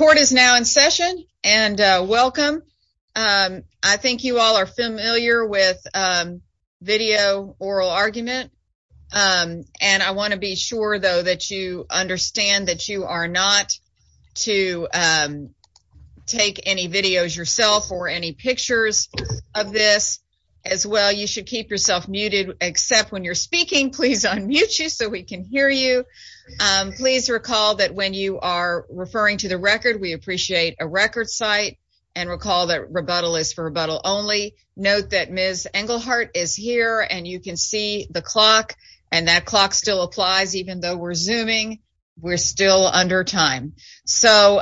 Court is now in session, and welcome. I think you all are familiar with video oral argument, and I want to be sure, though, that you understand that you are not to take any videos yourself or any pictures of this. As well, you should keep yourself muted except when you're speaking. Please unmute you so we can hear you. Please recall that when you are referring to the record, we appreciate a record site, and recall that rebuttal is for rebuttal only. Note that Ms. Engelhardt is here, and you can see the clock, and that clock still applies even though we're Zooming. We're still under time. So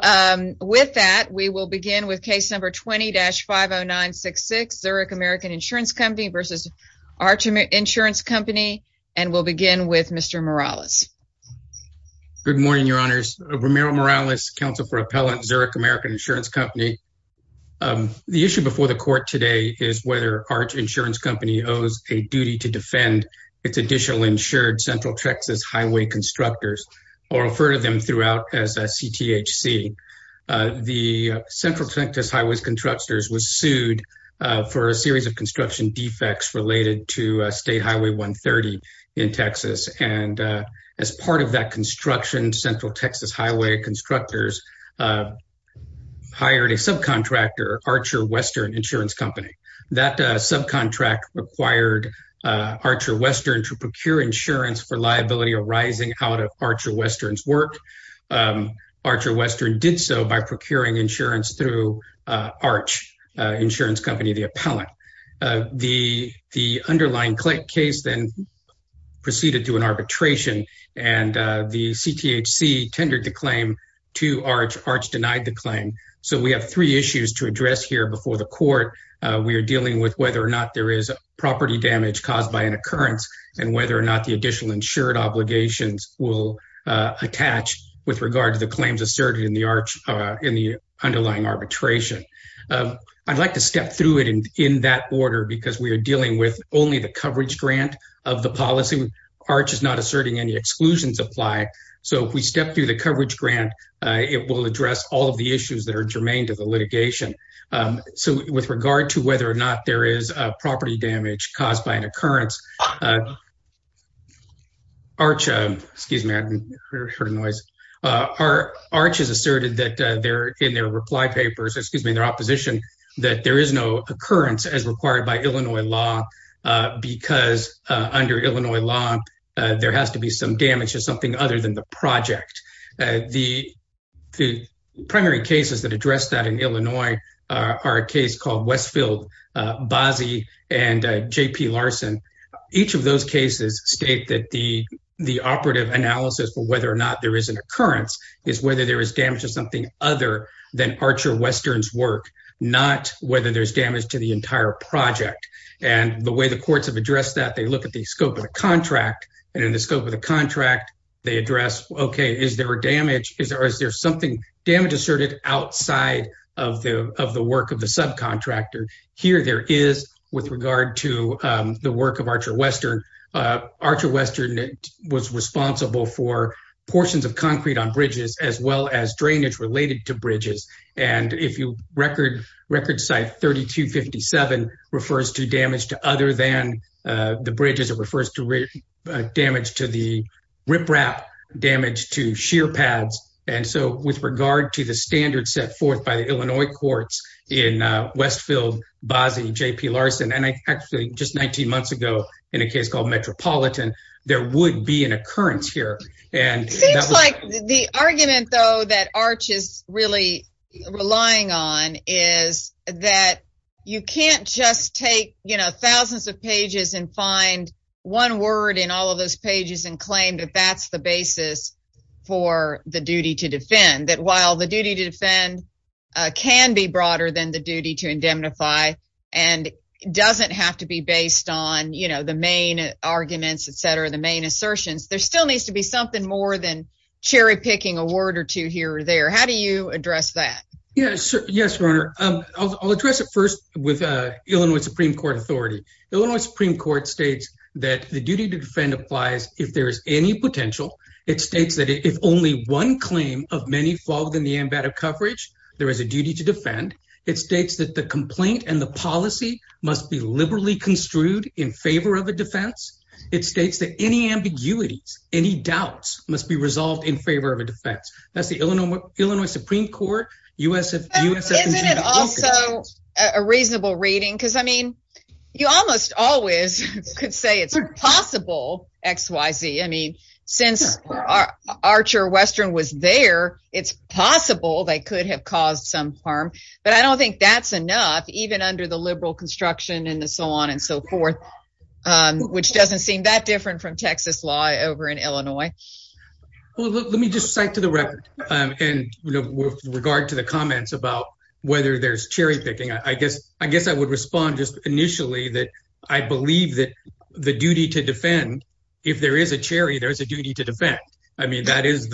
with that, we will begin with Case Number 20-50966, Zurich American Insurance Company v. Arch Insurance Company, and we'll begin with Mr. Morales. Good morning, Your Honors. Romero Morales, Counsel for Appellant, Zurich American Insurance Company. The issue before the Court today is whether Arch Insurance Company owes a duty to defend its additional insured Central Texas Highway Constructors, or refer to them throughout as a CTHC. The Central Texas Highway Constructors was sued for a series of construction defects related to State Highway 130 in Texas, and as part of that construction, Central Texas Highway Constructors hired a subcontractor, Archer Western Insurance Company. That subcontract required Archer Western to procure insurance for liability arising out of Archer Western's work. Archer Western did so by procuring insurance through Arch Insurance Company, the appellant. The underlying case then proceeded to an arbitration, and the CTHC tendered the claim to Arch. Arch denied the claim. So we have three issues to address here before the Court. We are dealing with whether or not there is property damage caused by an occurrence, and whether or not the additional insured obligations will attach with regard to the claims asserted in the underlying arbitration. I'd like to step through it in that order because we are dealing with only the coverage grant of the policy. Arch is not asserting any exclusions apply. So if we step through the coverage grant, it will address all of the issues that are germane to the litigation. So with regard to whether or not there is property damage caused by an occurrence, Arch has asserted that in their reply papers, excuse me, their opposition, that there is no occurrence as required by Illinois law because under Illinois law, there has to be some damage to something other than the project. The primary cases that address that in Illinois are a case called Westfield, Bazzi, and J.P. Larson. Each of those cases state that the operative analysis for whether or not there is an occurrence is whether there is damage to something other than Archer Western's work, not whether there's project. And the way the courts have addressed that, they look at the scope of the contract, and in the scope of the contract, they address, okay, is there a damage? Is there something damage asserted outside of the work of the subcontractor? Here there is with regard to the work of Archer Western. Archer Western was responsible for portions of concrete on bridges as well as drainage related to bridges. And if you record site 3257 refers to damage to other than the bridges, it refers to damage to the riprap, damage to shear pads. And so with regard to the standard set forth by the Illinois courts in Westfield, Bazzi, J.P. Larson, and actually just 19 months ago in a case called Metropolitan, there would be an occurrence here. Seems like the argument though that Arch is really relying on is that you can't just take, you know, thousands of pages and find one word in all of those pages and claim that that's the basis for the duty to defend. That while the duty to defend can be broader than the duty to indemnify and doesn't have to be based on, you know, the main arguments, etc., the main assertions, there still needs to be something more than cherry-picking a word or two here or there. How do you address that? Yes, Your Honor. I'll address it first with Illinois Supreme Court authority. Illinois Supreme Court states that the duty to defend applies if there is any potential. It states that if only one claim of many fall within the ambit of coverage, there is a duty to defend. It states that the complaint and the policy must be liberally construed in favor of defense. It states that any ambiguities, any doubts must be resolved in favor of a defense. That's the Illinois Supreme Court. Isn't it also a reasonable reading? Because, I mean, you almost always could say it's possible, X, Y, Z. I mean, since Archer Western was there, it's possible they could have caused some harm. But I don't think that's enough, even under the liberal construction and so on and so forth, which doesn't seem that different from Texas law over in Illinois. Well, let me just cite to the record, and with regard to the comments about whether there's cherry-picking, I guess I would respond just initially that I believe that the duty to defend, if there is a cherry, there's a duty to defend. I mean, is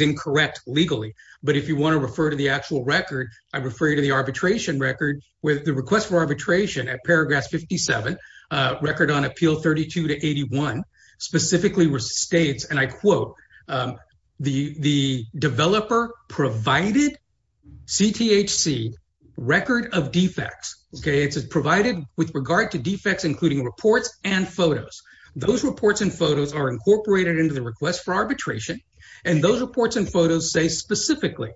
incorrect legally. But if you want to refer to the actual record, I refer you to the arbitration record with the request for arbitration at paragraph 57, record on appeal 32 to 81, specifically states, and I quote, the developer provided CTHC record of defects, okay? It's provided with regard to defects, including reports and photos. Those reports and photos are incorporated into the request for arbitration. And those reports and photos say specifically,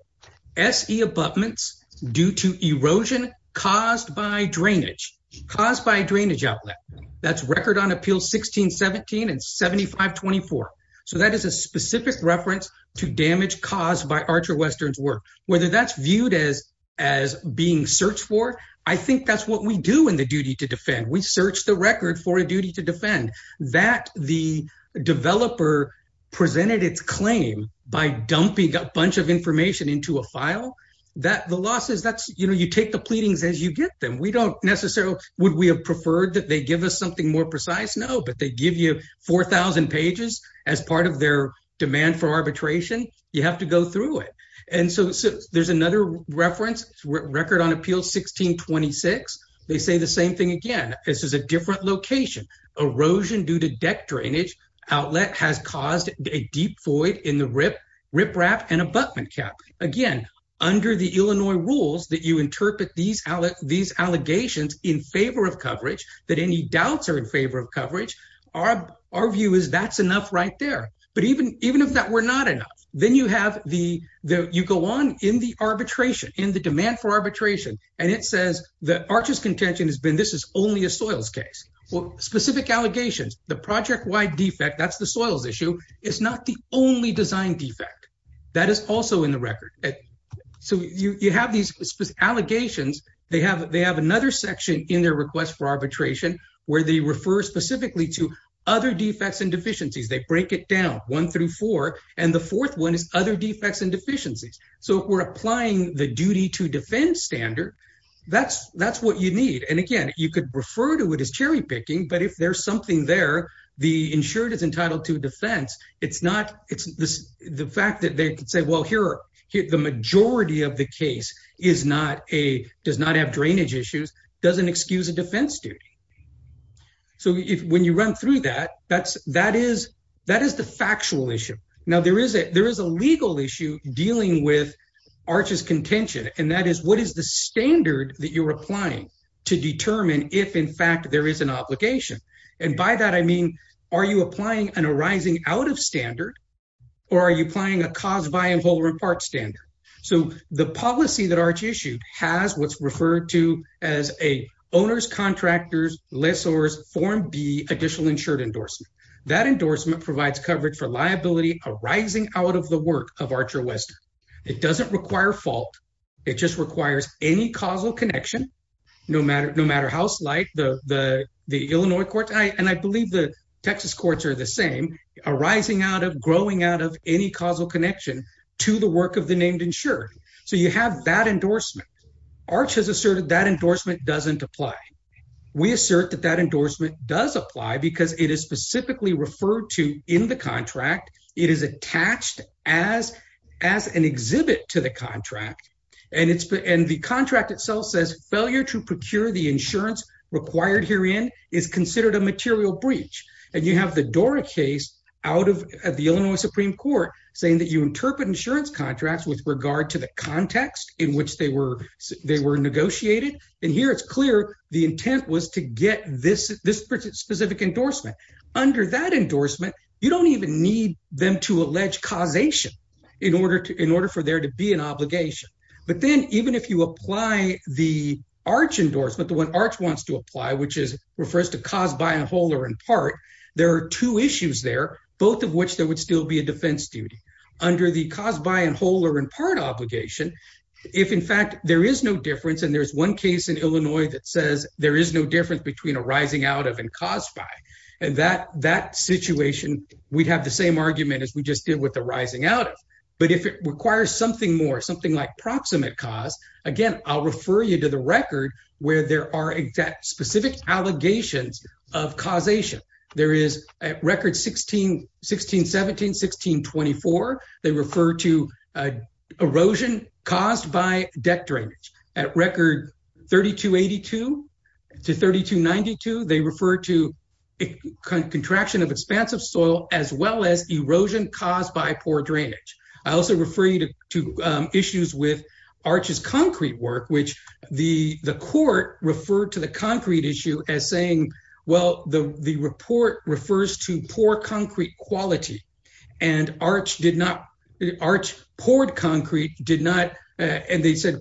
SE abutments due to erosion caused by drainage, caused by drainage outlet. That's record on appeal 1617 and 7524. So that is a specific reference to damage caused by Archer Western's work. Whether that's viewed as being searched for, I think that's what we do in the duty to defend. We search the record for a duty to defend. That the developer presented its claim by dumping a bunch of information into a file, that the loss is, that's, you know, you take the pleadings as you get them. We don't necessarily, would we have preferred that they give us something more precise? No, but they give you 4,000 pages as part of their demand for arbitration. You have to go through it. And so there's another reference record on appeal 1626. They say the same thing again. This is a different location. Erosion due to deck drainage outlet has caused a deep void in the rip, riprap and abutment cap. Again, under the Illinois rules that you interpret these, these allegations in favor of coverage, that any doubts are in favor of coverage, our, our view is that's enough right there. But even, even if that were not enough, then you have the, the, you go on in the arbitration, in the demand for arbitration. And it says that Archer's contention has been, this is only a soils case. Well, specific allegations, the project wide defect, that's the soils issue. It's not the only design defect. That is also in the record. So you, you have these allegations. They have, they have another section in their request for arbitration where they refer specifically to other defects and deficiencies. So if we're applying the duty to defend standard, that's, that's what you need. And again, you could refer to it as cherry picking, but if there's something there, the insured is entitled to defense. It's not, it's the fact that they could say, well, here, here, the majority of the case is not a, does not have drainage issues. Doesn't excuse a defense duty. So if, when you run through that, that's, that is, that is the factual issue. Now there is there is a legal issue dealing with Archer's contention. And that is what is the standard that you're applying to determine if in fact there is an obligation. And by that, I mean, are you applying an arising out of standard? Or are you applying a cause by and whole or in part standard? So the policy that Arch issued has what's referred to as a owner's contractors, less or form B additional insured endorsement. That endorsement provides coverage for liability arising out of the work of Archer Western. It doesn't require fault. It just requires any causal connection, no matter, no matter how slight the, the, the Illinois court. And I believe the Texas courts are the same arising out of growing out of any causal connection to the work of the named insured. So you have that endorsement. Arch has asserted that endorsement doesn't apply. We assert that that endorsement does apply because it is specifically referred to in the contract. It is attached as, as an exhibit to the contract. And it's, and the contract itself says failure to procure the insurance required herein is considered a material breach. And you have the Dora case out of the Illinois Supreme court saying that you interpret insurance contracts with regard to the context in which they were, they were negotiated. And here it's clear. The intent was to get this, this specific endorsement under that endorsement. You don't even need them to allege causation in order to, in order for there to be an obligation. But then even if you apply the arch endorsement, the one arch wants to apply, which is refers to cause by and whole or in part, there are two issues there, both of which there would still be a defense duty under the cause by and whole or in part obligation. If in fact there is no difference. And there's one case in Illinois that says there is no difference between a rising out of and caused by, and that, that situation, we'd have the same argument as we just did with the rising out of, but if it requires something more, something like proximate cause, again, I'll refer you to the record where there are exact specific allegations of causation. There is a record 16, 16, 17, 16, 24. They refer to erosion caused by deck drainage at record 3282 to 3292. They refer to contraction of expansive soil, as well as erosion caused by poor drainage. I also refer you to issues with arches concrete work, which the court referred to the concrete issue as saying, well, the, the report refers to poor concrete quality and arch did not arch poured concrete did not. And they said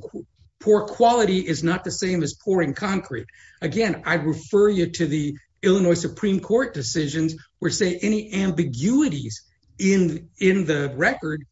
poor quality is not the same as pouring concrete. Again, I refer you to the Illinois Supreme court decisions where say any ambiguities in, in the record,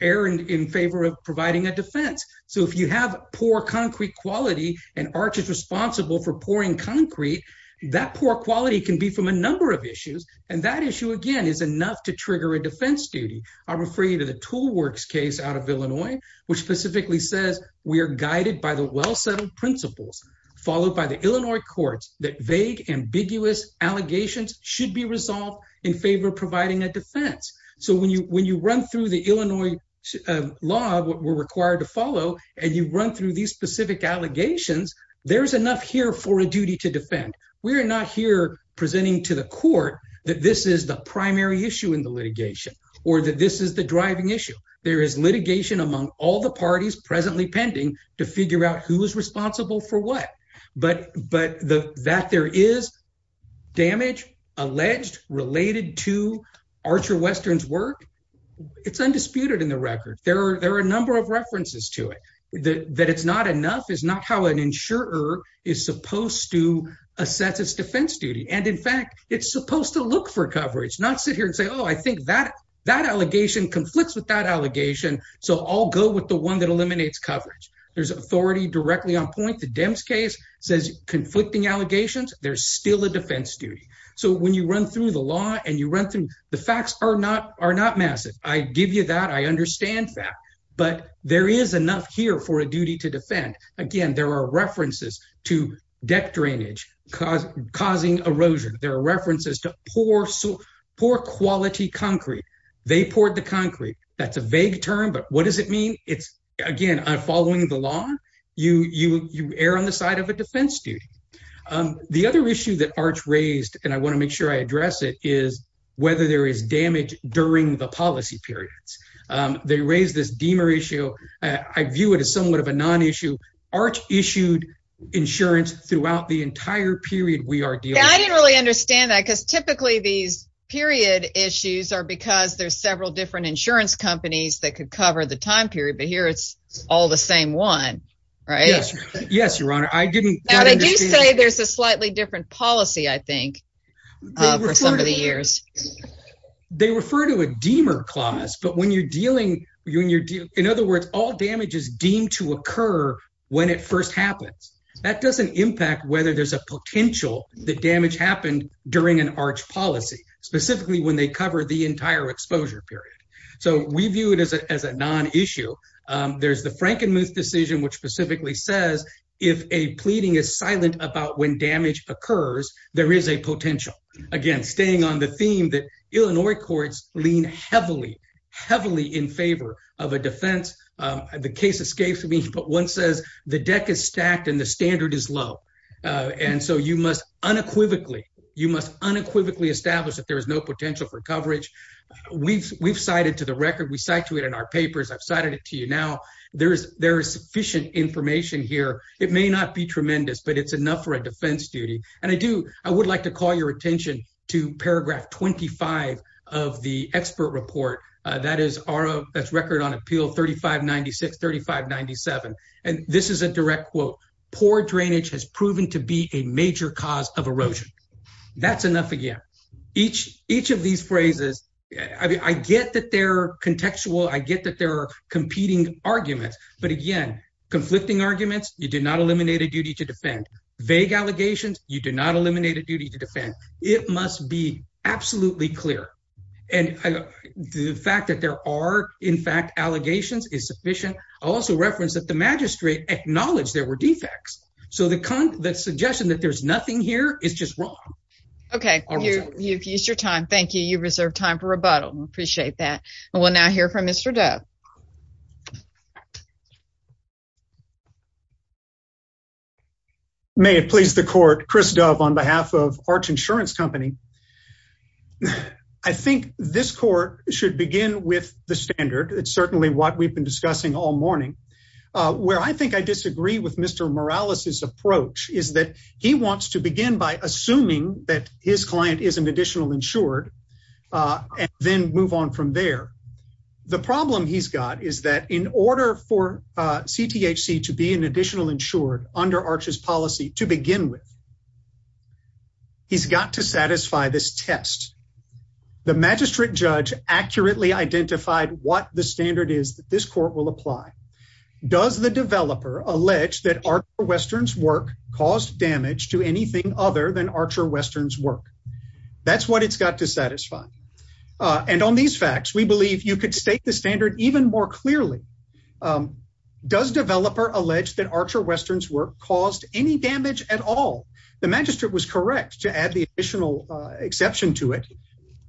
Aaron in favor of providing a defense. So if you have poor concrete quality and arch is responsible for pouring concrete, that poor quality can be from a number of issues. And that issue again, is enough to trigger a defense duty. I'll refer you to the tool works case out of Illinois, which specifically says we are guided by the well-settled principles followed by the Illinois courts that vague ambiguous allegations should be resolved in favor of providing a defense. So when you, when you run through the Illinois law, what we're required to follow and you run through these specific allegations, there's enough here for a duty to defend. We're not here presenting to the court that this is the primary issue in the litigation or that this is the driving issue. There is litigation among all the parties presently pending to figure out who is responsible for what, but, but the, that there is damage alleged related to Archer Western's work. It's undisputed in the record. There are, there are a number of references to it that it's not enough is not how an insurer is supposed to assess its defense duty. And in fact, it's supposed to look for coverage, not sit here and say, Oh, I think that that allegation conflicts with that allegation. So I'll go with the one that eliminates coverage. There's authority directly on point. The Dems case says conflicting allegations. There's still a defense duty. So when you run through the law and you run through the facts are not, are not massive. I give you that. I understand that, but there is enough here for a duty to defend. Again, there are references to deck drainage cause causing erosion. There are references to poor, poor quality concrete. They poured the concrete. That's a vague term, but what does it mean? It's again, I'm following the law. You, you, you err on the side of a defense duty. The other issue that raised and I want to make sure I address it is whether there is damage during the policy periods. They raised this Demer issue. I view it as somewhat of a non-issue arch issued insurance throughout the entire period. We are dealing. I didn't really understand that because typically these period issues are because there's several different insurance companies that could cover the time period, but here it's all the same one, right? Yes, Your Honor. I didn't say there's a I think for some of the years they refer to a Demer clause, but when you're dealing, when you're dealing, in other words, all damage is deemed to occur when it first happens, that doesn't impact whether there's a potential that damage happened during an arch policy, specifically when they cover the entire exposure period. So we view it as a, as a non-issue. There's the Frankenmuth decision, which specifically says if a pleading is silent about when damage occurs, there is a potential. Again, staying on the theme that Illinois courts lean heavily, heavily in favor of a defense. The case escapes me, but one says the deck is stacked and the standard is low. And so you must unequivocally, you must unequivocally establish that there is no potential for coverage. We've, we've cited to the record, we cite to it in our papers. I've cited it to you now. There is, there is sufficient information here. It may not be a defense duty. And I do, I would like to call your attention to paragraph 25 of the expert report. That is our, that's record on appeal 3596, 3597. And this is a direct quote, poor drainage has proven to be a major cause of erosion. That's enough. Again, each, each of these phrases, I get that they're contextual. I get that there are competing arguments, but again, conflicting arguments, you did not eliminate a duty to defend vague allegations. You did not eliminate a duty to defend. It must be absolutely clear. And the fact that there are in fact, allegations is sufficient. I'll also reference that the magistrate acknowledged there were defects. So the con the suggestion that there's nothing here is just wrong. Okay. You've used your time. Thank you. You reserved time for rebuttal. We appreciate that. And we'll now hear from Mr. Dove. May it please the court, Chris Dove on behalf of arch insurance company. I think this court should begin with the standard. It's certainly what we've been discussing all morning, uh, where I think I disagree with Mr. Morales. His approach is that he wants to begin by assuming that his client is an additional insured, uh, and then move on from there. The problem he's got is that in order for, uh, CTHC to be an additional insured under arches policy to begin with, he's got to satisfy this test. The magistrate judge accurately identified what the standard is that this court will apply. Does the developer allege that our Westerns work caused damage to anything other than Archer Westerns work? That's what it's got to satisfy. Uh, and on these facts, we believe you could state the standard even more clearly. Um, does developer allege that Archer Westerns work caused any damage at all? The magistrate was correct to add the additional exception to it,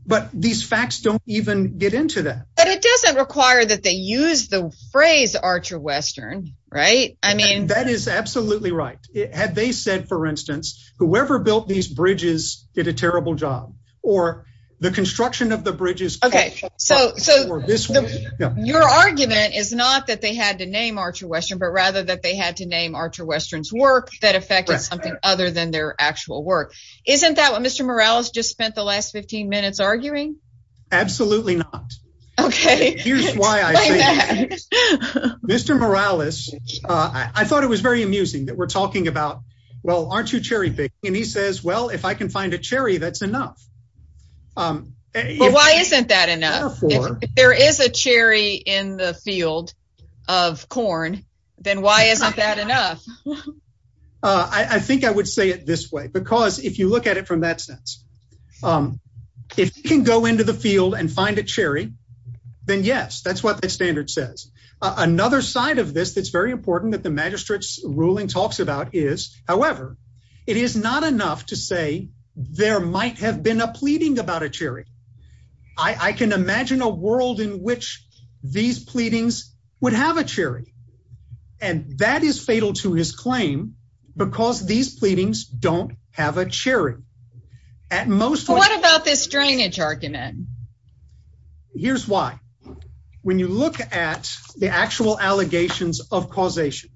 but these facts don't even get into that, but it doesn't require that they use the phrase Archer Western, right? I mean, that is absolutely right. Had they said, for instance, whoever built these bridges did a the construction of the bridges. Okay, so, so your argument is not that they had to name Archer Western, but rather that they had to name Archer Westerns work that affected something other than their actual work. Isn't that what Mr. Morales just spent the last 15 minutes arguing? Absolutely not. Okay, here's why I say that. Mr. Morales, uh, I thought it was very amusing that we're talking about, well, aren't you cherry picking? And he says, well, if I can find a cherry, that's enough. Why isn't that enough? If there is a cherry in the field of corn, then why isn't that enough? I think I would say it this way, because if you look at it from that sense, if you can go into the field and find a cherry, then yes, that's what the standard says. Another side of this that's very important that the magistrate's ruling talks about is, however, it is not enough to say there might have been a pleading about a cherry. I can imagine a world in which these pleadings would have a cherry, and that is fatal to his claim because these pleadings don't have a cherry. At most, what about this drainage argument? Here's why. When you look at the actual allegations of causation,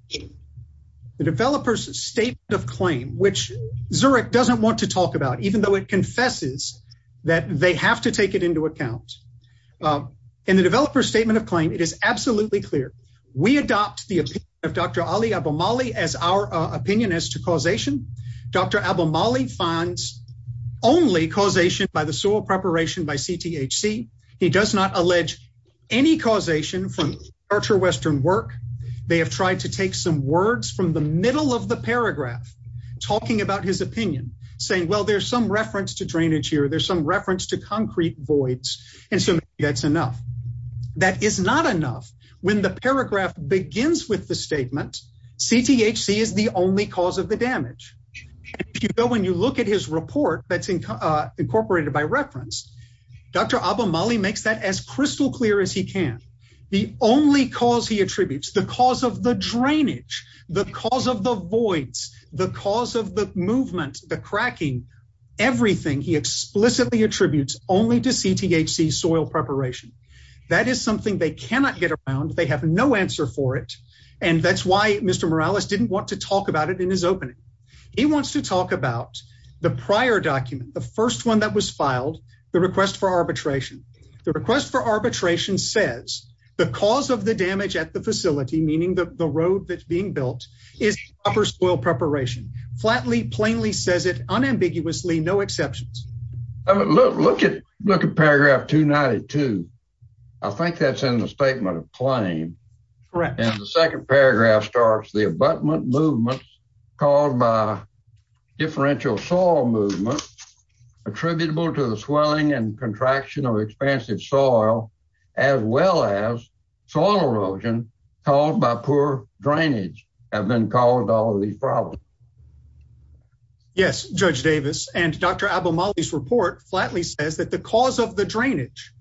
the developer's statement of claim, which Zurich doesn't want to talk about, even though it confesses that they have to take it into account. In the developer's statement of claim, it is absolutely clear. We adopt the opinion of Dr. Ali Abomali as our opinion as to causation. Dr. Abomali finds only causation by the soil preparation by CTHC. He does not allege any causation from archer western work. They have tried to take some words from the middle of the paragraph talking about his opinion, saying, well, there's some reference to drainage here. There's some reference to concrete voids, and so that's enough. That is not enough. When the paragraph begins with the statement, CTHC is the only cause of the damage. When you look at his report that's incorporated by reference, Dr. Abomali makes that as crystal clear as he can. The only cause he attributes, the cause of the drainage, the cause of the voids, the cause of the movement, the cracking, everything he explicitly attributes only to CTHC soil preparation. That is something they cannot get around. They have no answer for it, and that's why Mr. Morales didn't want to talk about it in his opening. He wants to talk about the prior document, the first one that was filed, the request for arbitration. The request for arbitration says the cause of the damage at the facility, meaning the road that's being built, is upper soil preparation. Flatly, plainly says it, unambiguously, no exceptions. Look at paragraph 292. I think that's in the statement of claim. Correct. And the second paragraph starts, the abutment movements caused by differential soil movement attributable to the swelling and contraction of expansive soil, as well as soil erosion caused by poor drainage, have been called all these problems. Yes, Judge Davis, and Dr. Abomali's report flatly says that the cause of the drainage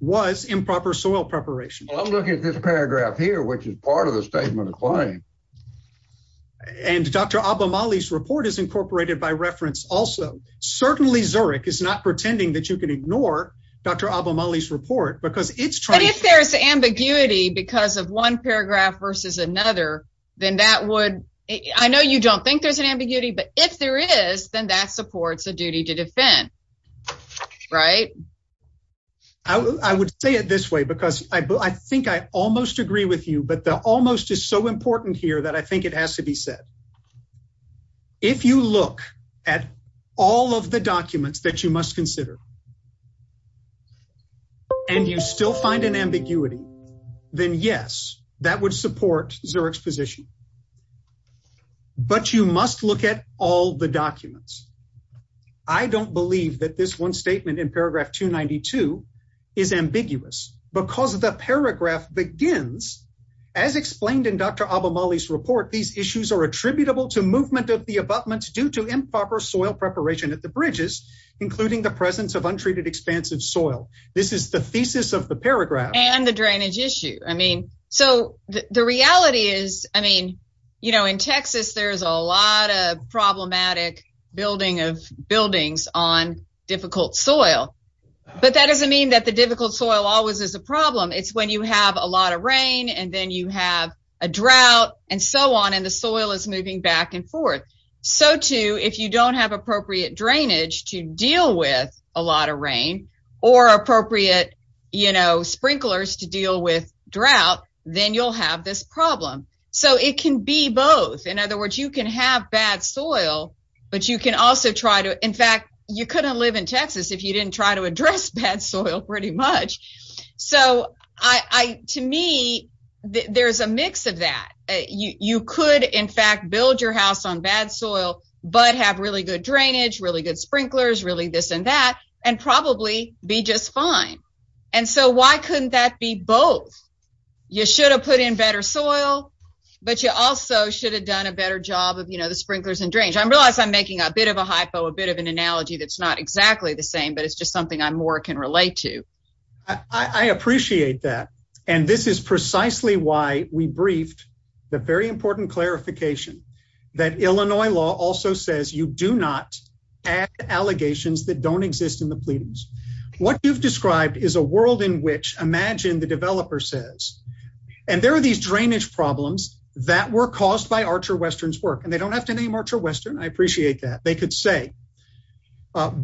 was improper soil preparation. I'm looking at this paragraph here, which is part of the statement of claim. And Dr. Abomali's report is incorporated by reference also. Certainly, Zurich is not pretending that you can ignore Dr. Abomali's report, because it's trying- But if there's ambiguity because of one paragraph versus another, then that would- I know you don't think there's an ambiguity, but if there is, then that supports a duty to defend, right? I would say it this way, because I think I almost agree with you, but the almost is so important here that I think it has to be said. If you look at all of the documents that you must consider and you still find an ambiguity, then yes, that would support Zurich's position. But you must look at all the documents. I don't believe that this one statement in paragraph 292 is ambiguous, because the paragraph begins, as explained in Dr. Abomali's report, these issues are attributable to movement of the abutments due to improper soil preparation at the bridges, including the presence of untreated expansive soil. This is the thesis of the In Texas, there's a lot of problematic building of buildings on difficult soil, but that doesn't mean that the difficult soil always is a problem. It's when you have a lot of rain and then you have a drought and so on, and the soil is moving back and forth. So too, if you don't have appropriate drainage to deal with a lot of rain or appropriate sprinklers to deal with drought, then you'll have this problem. So it can be both. In other words, you can have bad soil, but you can also try to, in fact, you couldn't live in Texas if you didn't try to address bad soil, pretty much. So to me, there's a mix of that. You could, in fact, build your house on bad soil, but have really good drainage, really good sprinklers, really this and that, and probably be just fine. And so why couldn't that be both? You should have put in better soil, but you also should have done a better job of the sprinklers and drainage. I realize I'm making a bit of a hypo, a bit of an analogy that's not exactly the same, but it's just something I more can relate to. I appreciate that, and this is precisely why we briefed the very important clarification that Illinois law also says you do not add allegations that don't exist in the pleadings. What you've described is a world in which, imagine, the developer says, and there are these drainage problems that were caused by Archer Western's work, and they don't have to name Archer Western. I appreciate that. They could say,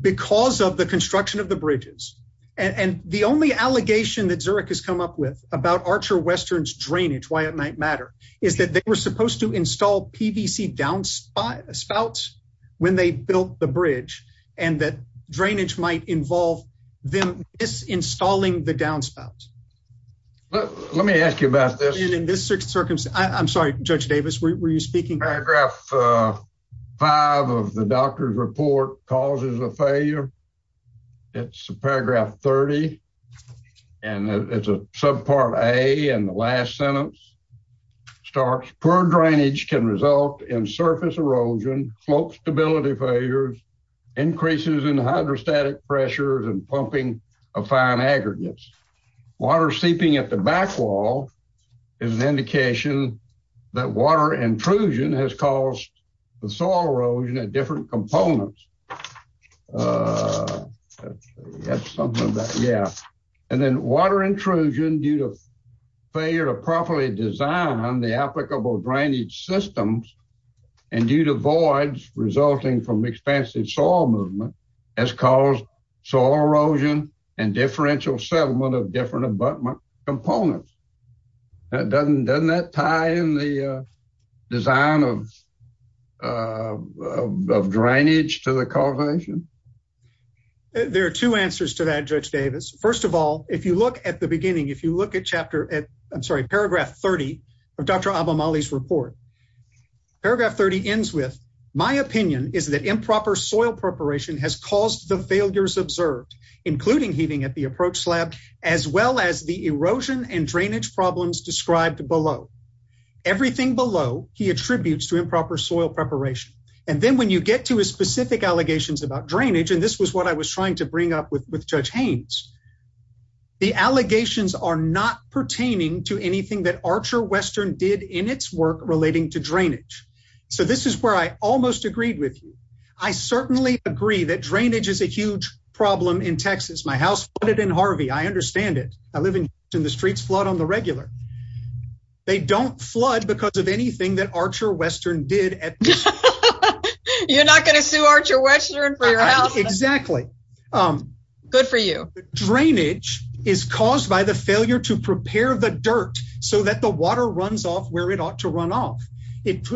because of the construction of the bridges, and the only allegation that Zurich has come up with about Archer Western's drainage, why it might matter, is that they were supposed to install PVC downspouts when they built the bridge, and that drainage might involve them disinstalling the downspout. Let me ask you about this. In this circumstance, I'm sorry, Judge Davis, were you speaking? Paragraph five of the doctor's report causes a failure. It's paragraph 30, and it's a subpart A, and the last sentence starts, poor drainage can result in surface erosion, slope stability failures, increases in hydrostatic pressures, and pumping of fine aggregates. Water seeping at the back wall is an indication that water intrusion has caused the soil erosion at different components. And then water intrusion due to failure to properly design the applicable drainage systems, and due to voids resulting from expansive soil movement, has caused soil erosion and differential settlement of different abutment components. Doesn't that tie in the design of drainage to the causation? There are two answers to that, Judge Davis. First of all, if you look at the beginning, if you look at chapter, I'm sorry, paragraph 30 of Dr. Abamali's report, paragraph 30 ends with, my opinion is that improper soil preparation has caused the failures observed, including heating at the approach slab, as well as the erosion and drainage problems described below. Everything below he attributes to improper soil preparation. And then when you get to his specific allegations about drainage, and this was what I was trying to bring up with Judge Haynes, the allegations are not pertaining to anything that Archer Western did in its work relating to drainage. So this is where I almost agreed with you. I certainly agree that drainage is a huge problem in Texas. My house flooded in Harvey. I understand it. I live in Houston. The streets flood on the regular. They don't flood because of anything that Archer Western did. You're not going to sue Archer Western for your house. Exactly. Good for you. Drainage is caused by the failure to prepare the dirt so that the water runs off where it ought to run off. It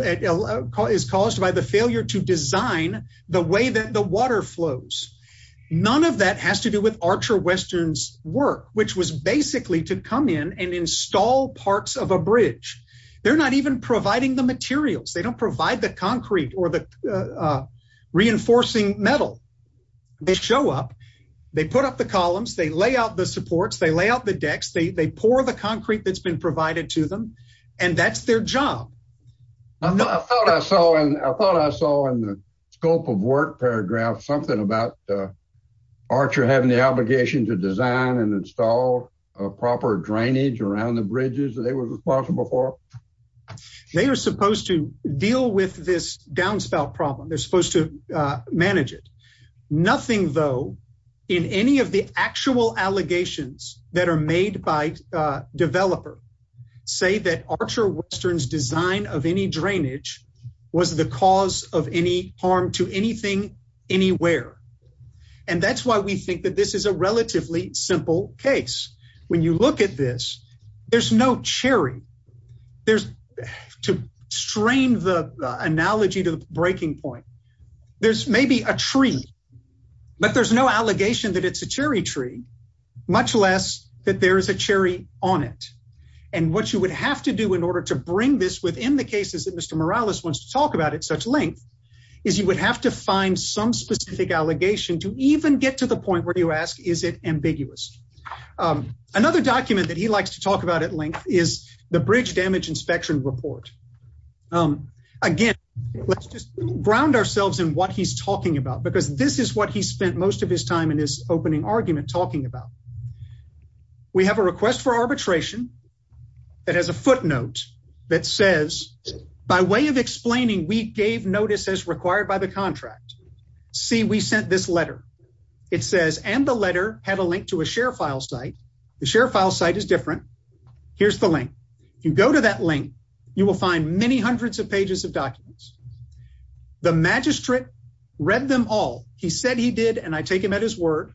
none of that has to do with Archer Western's work, which was basically to come in and install parts of a bridge. They're not even providing the materials. They don't provide the concrete or the reinforcing metal. They show up, they put up the columns, they lay out the supports, they lay out the decks, they pour the concrete that's been provided to them. And that's their job. I thought I saw in the scope of work paragraph something about Archer having the obligation to design and install proper drainage around the bridges that they were responsible for. They are supposed to deal with this downspout problem. They're supposed to manage it. Nothing, though, in any of the actual allegations that are made by developer say that Archer Western's design of any drainage was the cause of any harm to anything anywhere. And that's why we think that this is a relatively simple case. When you look at this, there's no cherry. There's to strain the analogy to the breaking point. There's maybe a tree, but there's no allegation that it's a cherry tree, much less that there is a cherry on it. And what you would have to do in order to bring this within the cases that Mr. Morales wants to talk about at such length, is you would have to find some specific allegation to even get to the point where you ask, is it ambiguous? Another document that he likes to talk about at length is the bridge damage inspection report. Again, let's just ground ourselves in what he's talking about, because this is what he spent most of his time in his opening argument talking about. We have a request for arbitration that has a footnote that says, by way of explaining, we gave notice as required by the contract. See, we sent this letter. It says, and the letter had a link to a share file site. The share file site is different. Here's the link. If you go to that link, you will find many hundreds of pages of documents. The magistrate read them all. He said he did, and I take him at his word.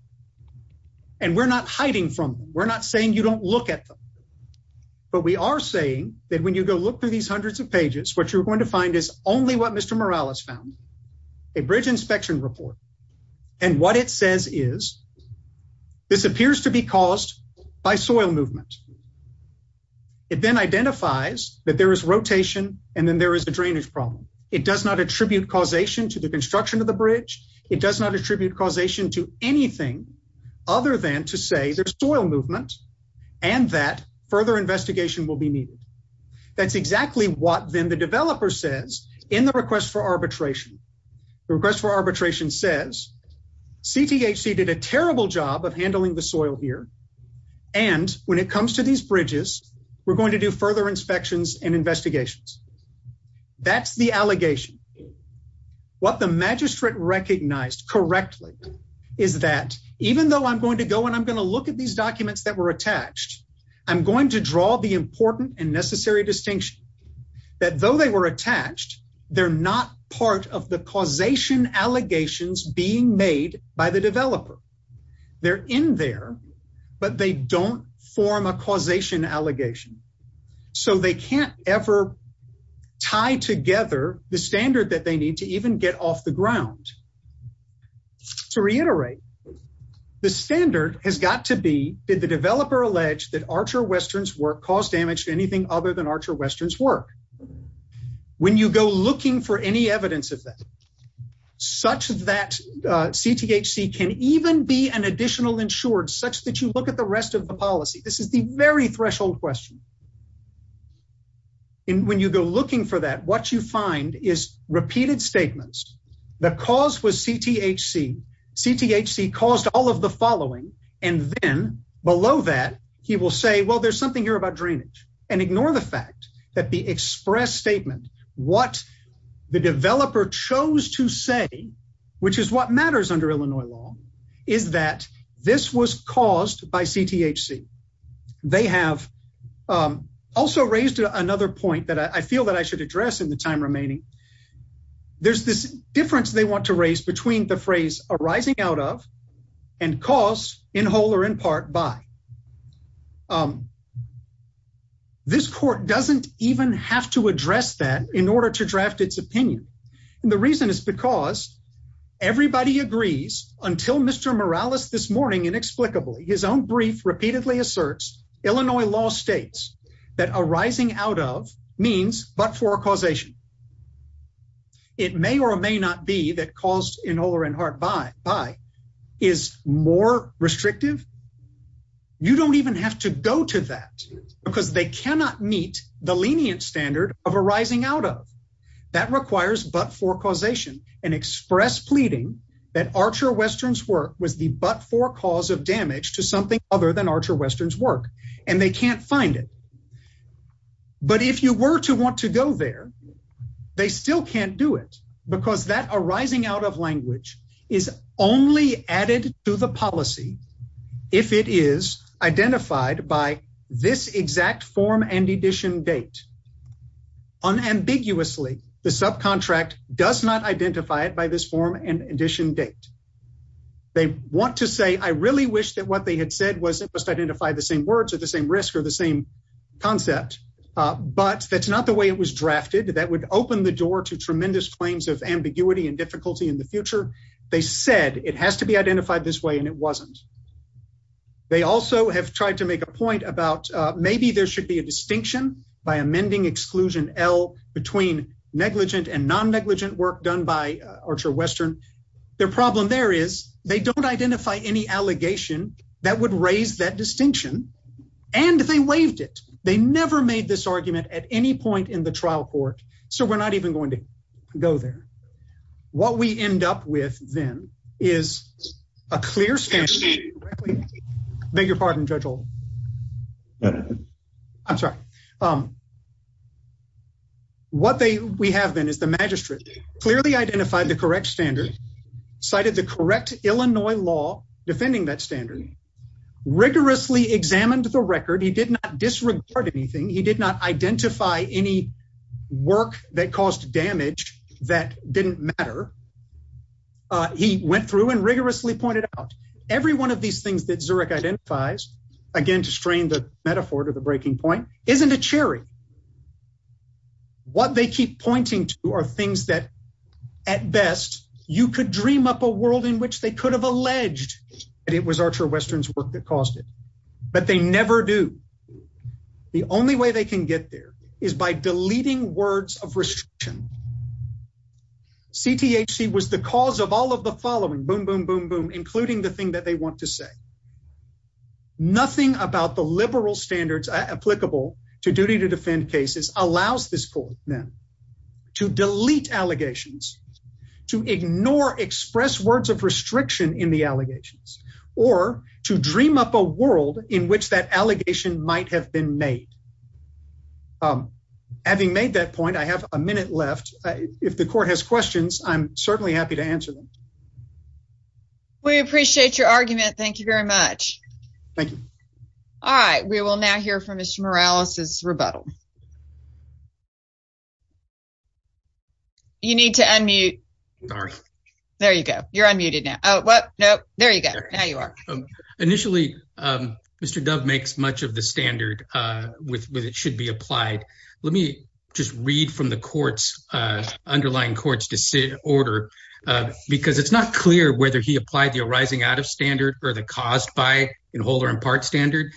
And we're not hiding from them. We're not saying you don't look at them. But we are saying that when you go look through these hundreds of pages, what you're going to find is only what Mr. Morales found, a bridge inspection report. And what it says is, this appears to be caused by soil movement. It then identifies that there is rotation, and then there is a drainage problem. It does not attribute causation to the construction of the bridge. It does not attribute causation to anything other than to say there's soil movement, and that further investigation will be needed. That's exactly what then the developer says in the request for arbitration. The request for arbitration says, CTHC did a terrible job of handling the soil here, and when it comes to these bridges, we're going to do further inspections and investigations. That's the allegation. What the magistrate recognized correctly is that even though I'm going to go and I'm going to look at these documents that were attached, I'm going to draw the important and necessary distinction that though they were attached, they're not part of the causation allegations being made by the developer. They're in there, but they don't form a causation allegation. So they can't ever tie together the standard that they need to even get off the ground. To reiterate, the standard has got to be, did the developer allege that Archer Western's work caused damage to anything other than Archer Western's work? When you go looking for any evidence of that, such that CTHC can even be an additional insured, such that you look at the threshold question, and when you go looking for that, what you find is repeated statements. The cause was CTHC. CTHC caused all of the following, and then below that, he will say, well, there's something here about drainage, and ignore the fact that the express statement, what the developer chose to say, which is what matters under Illinois law, is that this was caused by CTHC. They have also raised another point that I feel that I should address in the time remaining. There's this difference they want to raise between the phrase arising out of and cause in whole or in part by. This court doesn't even have to address that in order to draft its opinion. And the reason is because everybody agrees until Mr. Morales this morning, inexplicably, his own brief repeatedly asserts, Illinois law states that arising out of means but-for causation. It may or may not be that caused in whole or in part by is more restrictive. You don't even have to go to that because they cannot meet the lenient standard of arising out of. That requires but-for causation and express pleading that Archer Western's work was the but-for cause of damage to something other than Archer Western's work, and they can't find it. But if you were to want to go there, they still can't do it because that arising out of language is only added to the policy if it is identified by this exact form and edition date. Unambiguously, the subcontract does not identify it by this form and edition date. They want to say, I really wish that what they had said was it must identify the same words or the same risk or the same concept, but that's not the way it was drafted. That would open the door to tremendous claims of ambiguity and difficulty in the future. They said it has to be identified this way, and it wasn't. They also have tried to make a point about maybe there should be a distinction by amending exclusion L between negligent and non-negligent work done by Archer Western. Their problem there is they don't identify any allegation that would raise that distinction, and they waived it. They never made this argument at any point in the trial court, so we're not even going to go there. What we end up with, then, is a clear standard. Beg your pardon, Judge Oldham. I'm sorry. What we have, then, is the magistrate clearly identified the correct standard, cited the correct Illinois law defending that standard, rigorously examined the record. He did not disregard anything. He did not identify any work that caused damage that didn't matter. He went through and rigorously pointed out. Every one of these things that Zurich identifies, again, to strain the metaphor to the breaking point, isn't a cherry. What they keep pointing to are things that, at best, you could dream up a world in which they could have alleged that it was Archer Western's work that caused it, but they never do. The only way they can get there is by deleting words of restriction. CTHC was the cause of all of the following, boom, boom, boom, boom, including the thing that they want to say. Nothing about the cases allows this court, then, to delete allegations, to ignore expressed words of restriction in the allegations, or to dream up a world in which that allegation might have been made. Having made that point, I have a minute left. If the court has questions, I'm certainly happy to answer them. We appreciate your argument. Thank you very much. Thank you. All right. We will now hear from Mr. Morales' rebuttal. You need to unmute. There you go. You're unmuted now. Oh, what? No. There you go. Now you are. Initially, Mr. Dove makes much of the standard with it should be applied. Let me just read from the underlying court's order, because it's not clear whether he applied the arising out of or the caused by in whole or in part standard.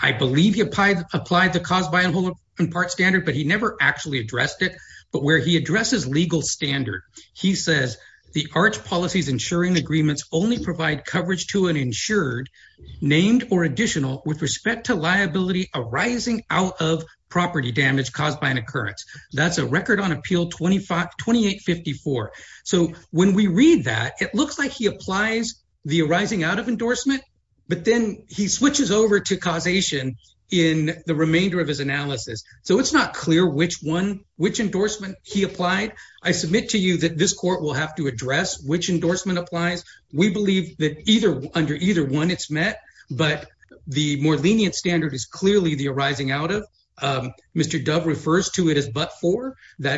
I believe he applied the caused by in whole in part standard, but he never actually addressed it. But where he addresses legal standard, he says, the ARCH policies insuring agreements only provide coverage to an insured, named or additional, with respect to liability arising out of property damage caused by an occurrence. That's a record on appeal 2854. So when we read that, it looks like he applies the arising out of endorsement, but then he switches over to causation in the remainder of his analysis. So it's not clear which endorsement he applied. I submit to you that this court will have to address which endorsement applies. We believe that under either one, it's met. But the more lenient standard is clearly the arising out of. Mr. Dove refers to it as but So my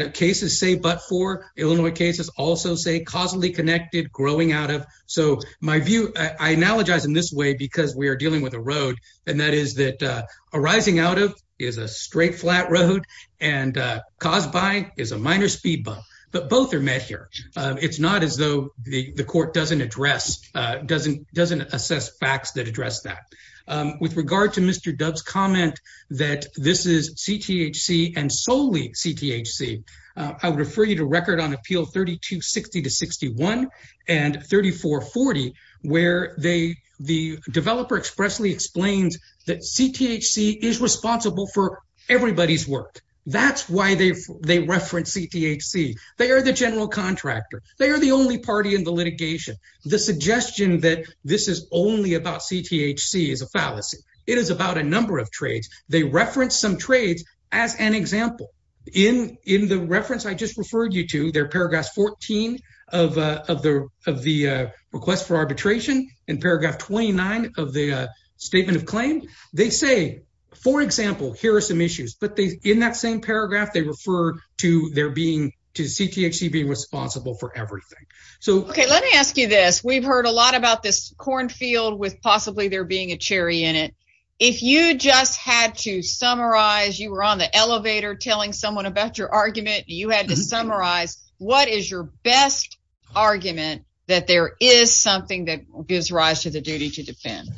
view, I analogize in this way because we are dealing with a road, and that is that arising out of is a straight, flat road, and caused by is a minor speed bump. But both are met here. It's not as though the court doesn't address, doesn't assess facts that address that. With regard to Mr. Dove's comment that this is CTHC and solely CTHC, I would refer you to record on appeal 3260-61 and 3440, where the developer expressly explains that CTHC is responsible for everybody's work. That's why they reference CTHC. They are the general contractor. They are the only party in the litigation. The suggestion that this is only about CTHC is a fallacy. It is about a number of trades. They reference some trades as an example. In the reference I just referred you to, there are paragraphs 14 of the request for arbitration and paragraph 29 of the statement of claim. They say, for example, here are some issues. But in that same paragraph, they refer to CTHC being responsible for everything. Okay, let me ask you this. We've heard a lot about this cornfield with possibly there being a cherry in it. If you just had to summarize, you were on the elevator telling someone about your argument. You had to summarize what is your best argument that there is something that gives rise to the duty to defend.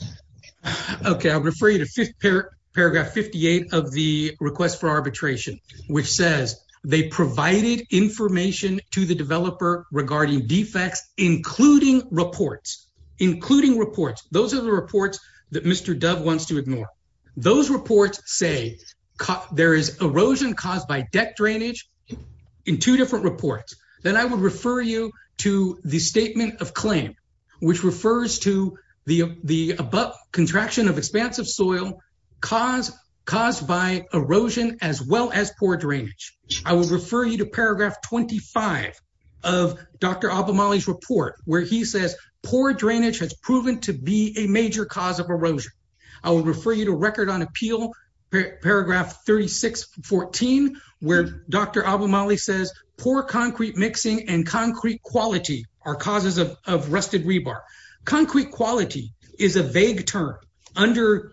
Okay, I'll refer you to paragraph 58 of the request for arbitration, which says they provided information to the developer regarding defects, including reports. Including reports. Those are the reports that Mr. Dove wants to ignore. Those reports say there is erosion caused by deck drainage in two different reports. Then I would refer you to the statement of claim, which refers to the above contraction of expansive soil caused by erosion as well as poor drainage. I will refer you to paragraph 25 of Dr. Abomaly's report, where he says poor drainage has proven to be a major cause of erosion. I will refer you to record on appeal, paragraph 3614, where Dr. Abomaly says poor concrete mixing and concrete quality are causes of rusted rebar. Concrete quality is a vague term. Under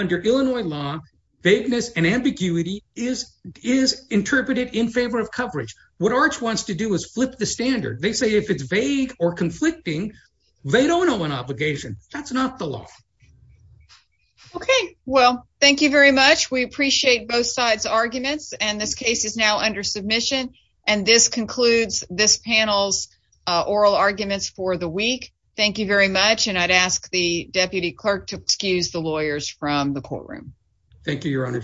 Illinois law, vagueness and ambiguity is interpreted in favor of coverage. What ARCH wants to do is flip the standard. They say if it's vague or conflicting, they don't owe an obligation. That's not the law. Okay. Well, thank you very much. We appreciate both sides' arguments. This case is now under submission. This concludes this panel's oral arguments for the week. Thank you very much. I'd ask the Deputy Clerk to excuse the lawyers from the courtroom. Thank you, Your Honor.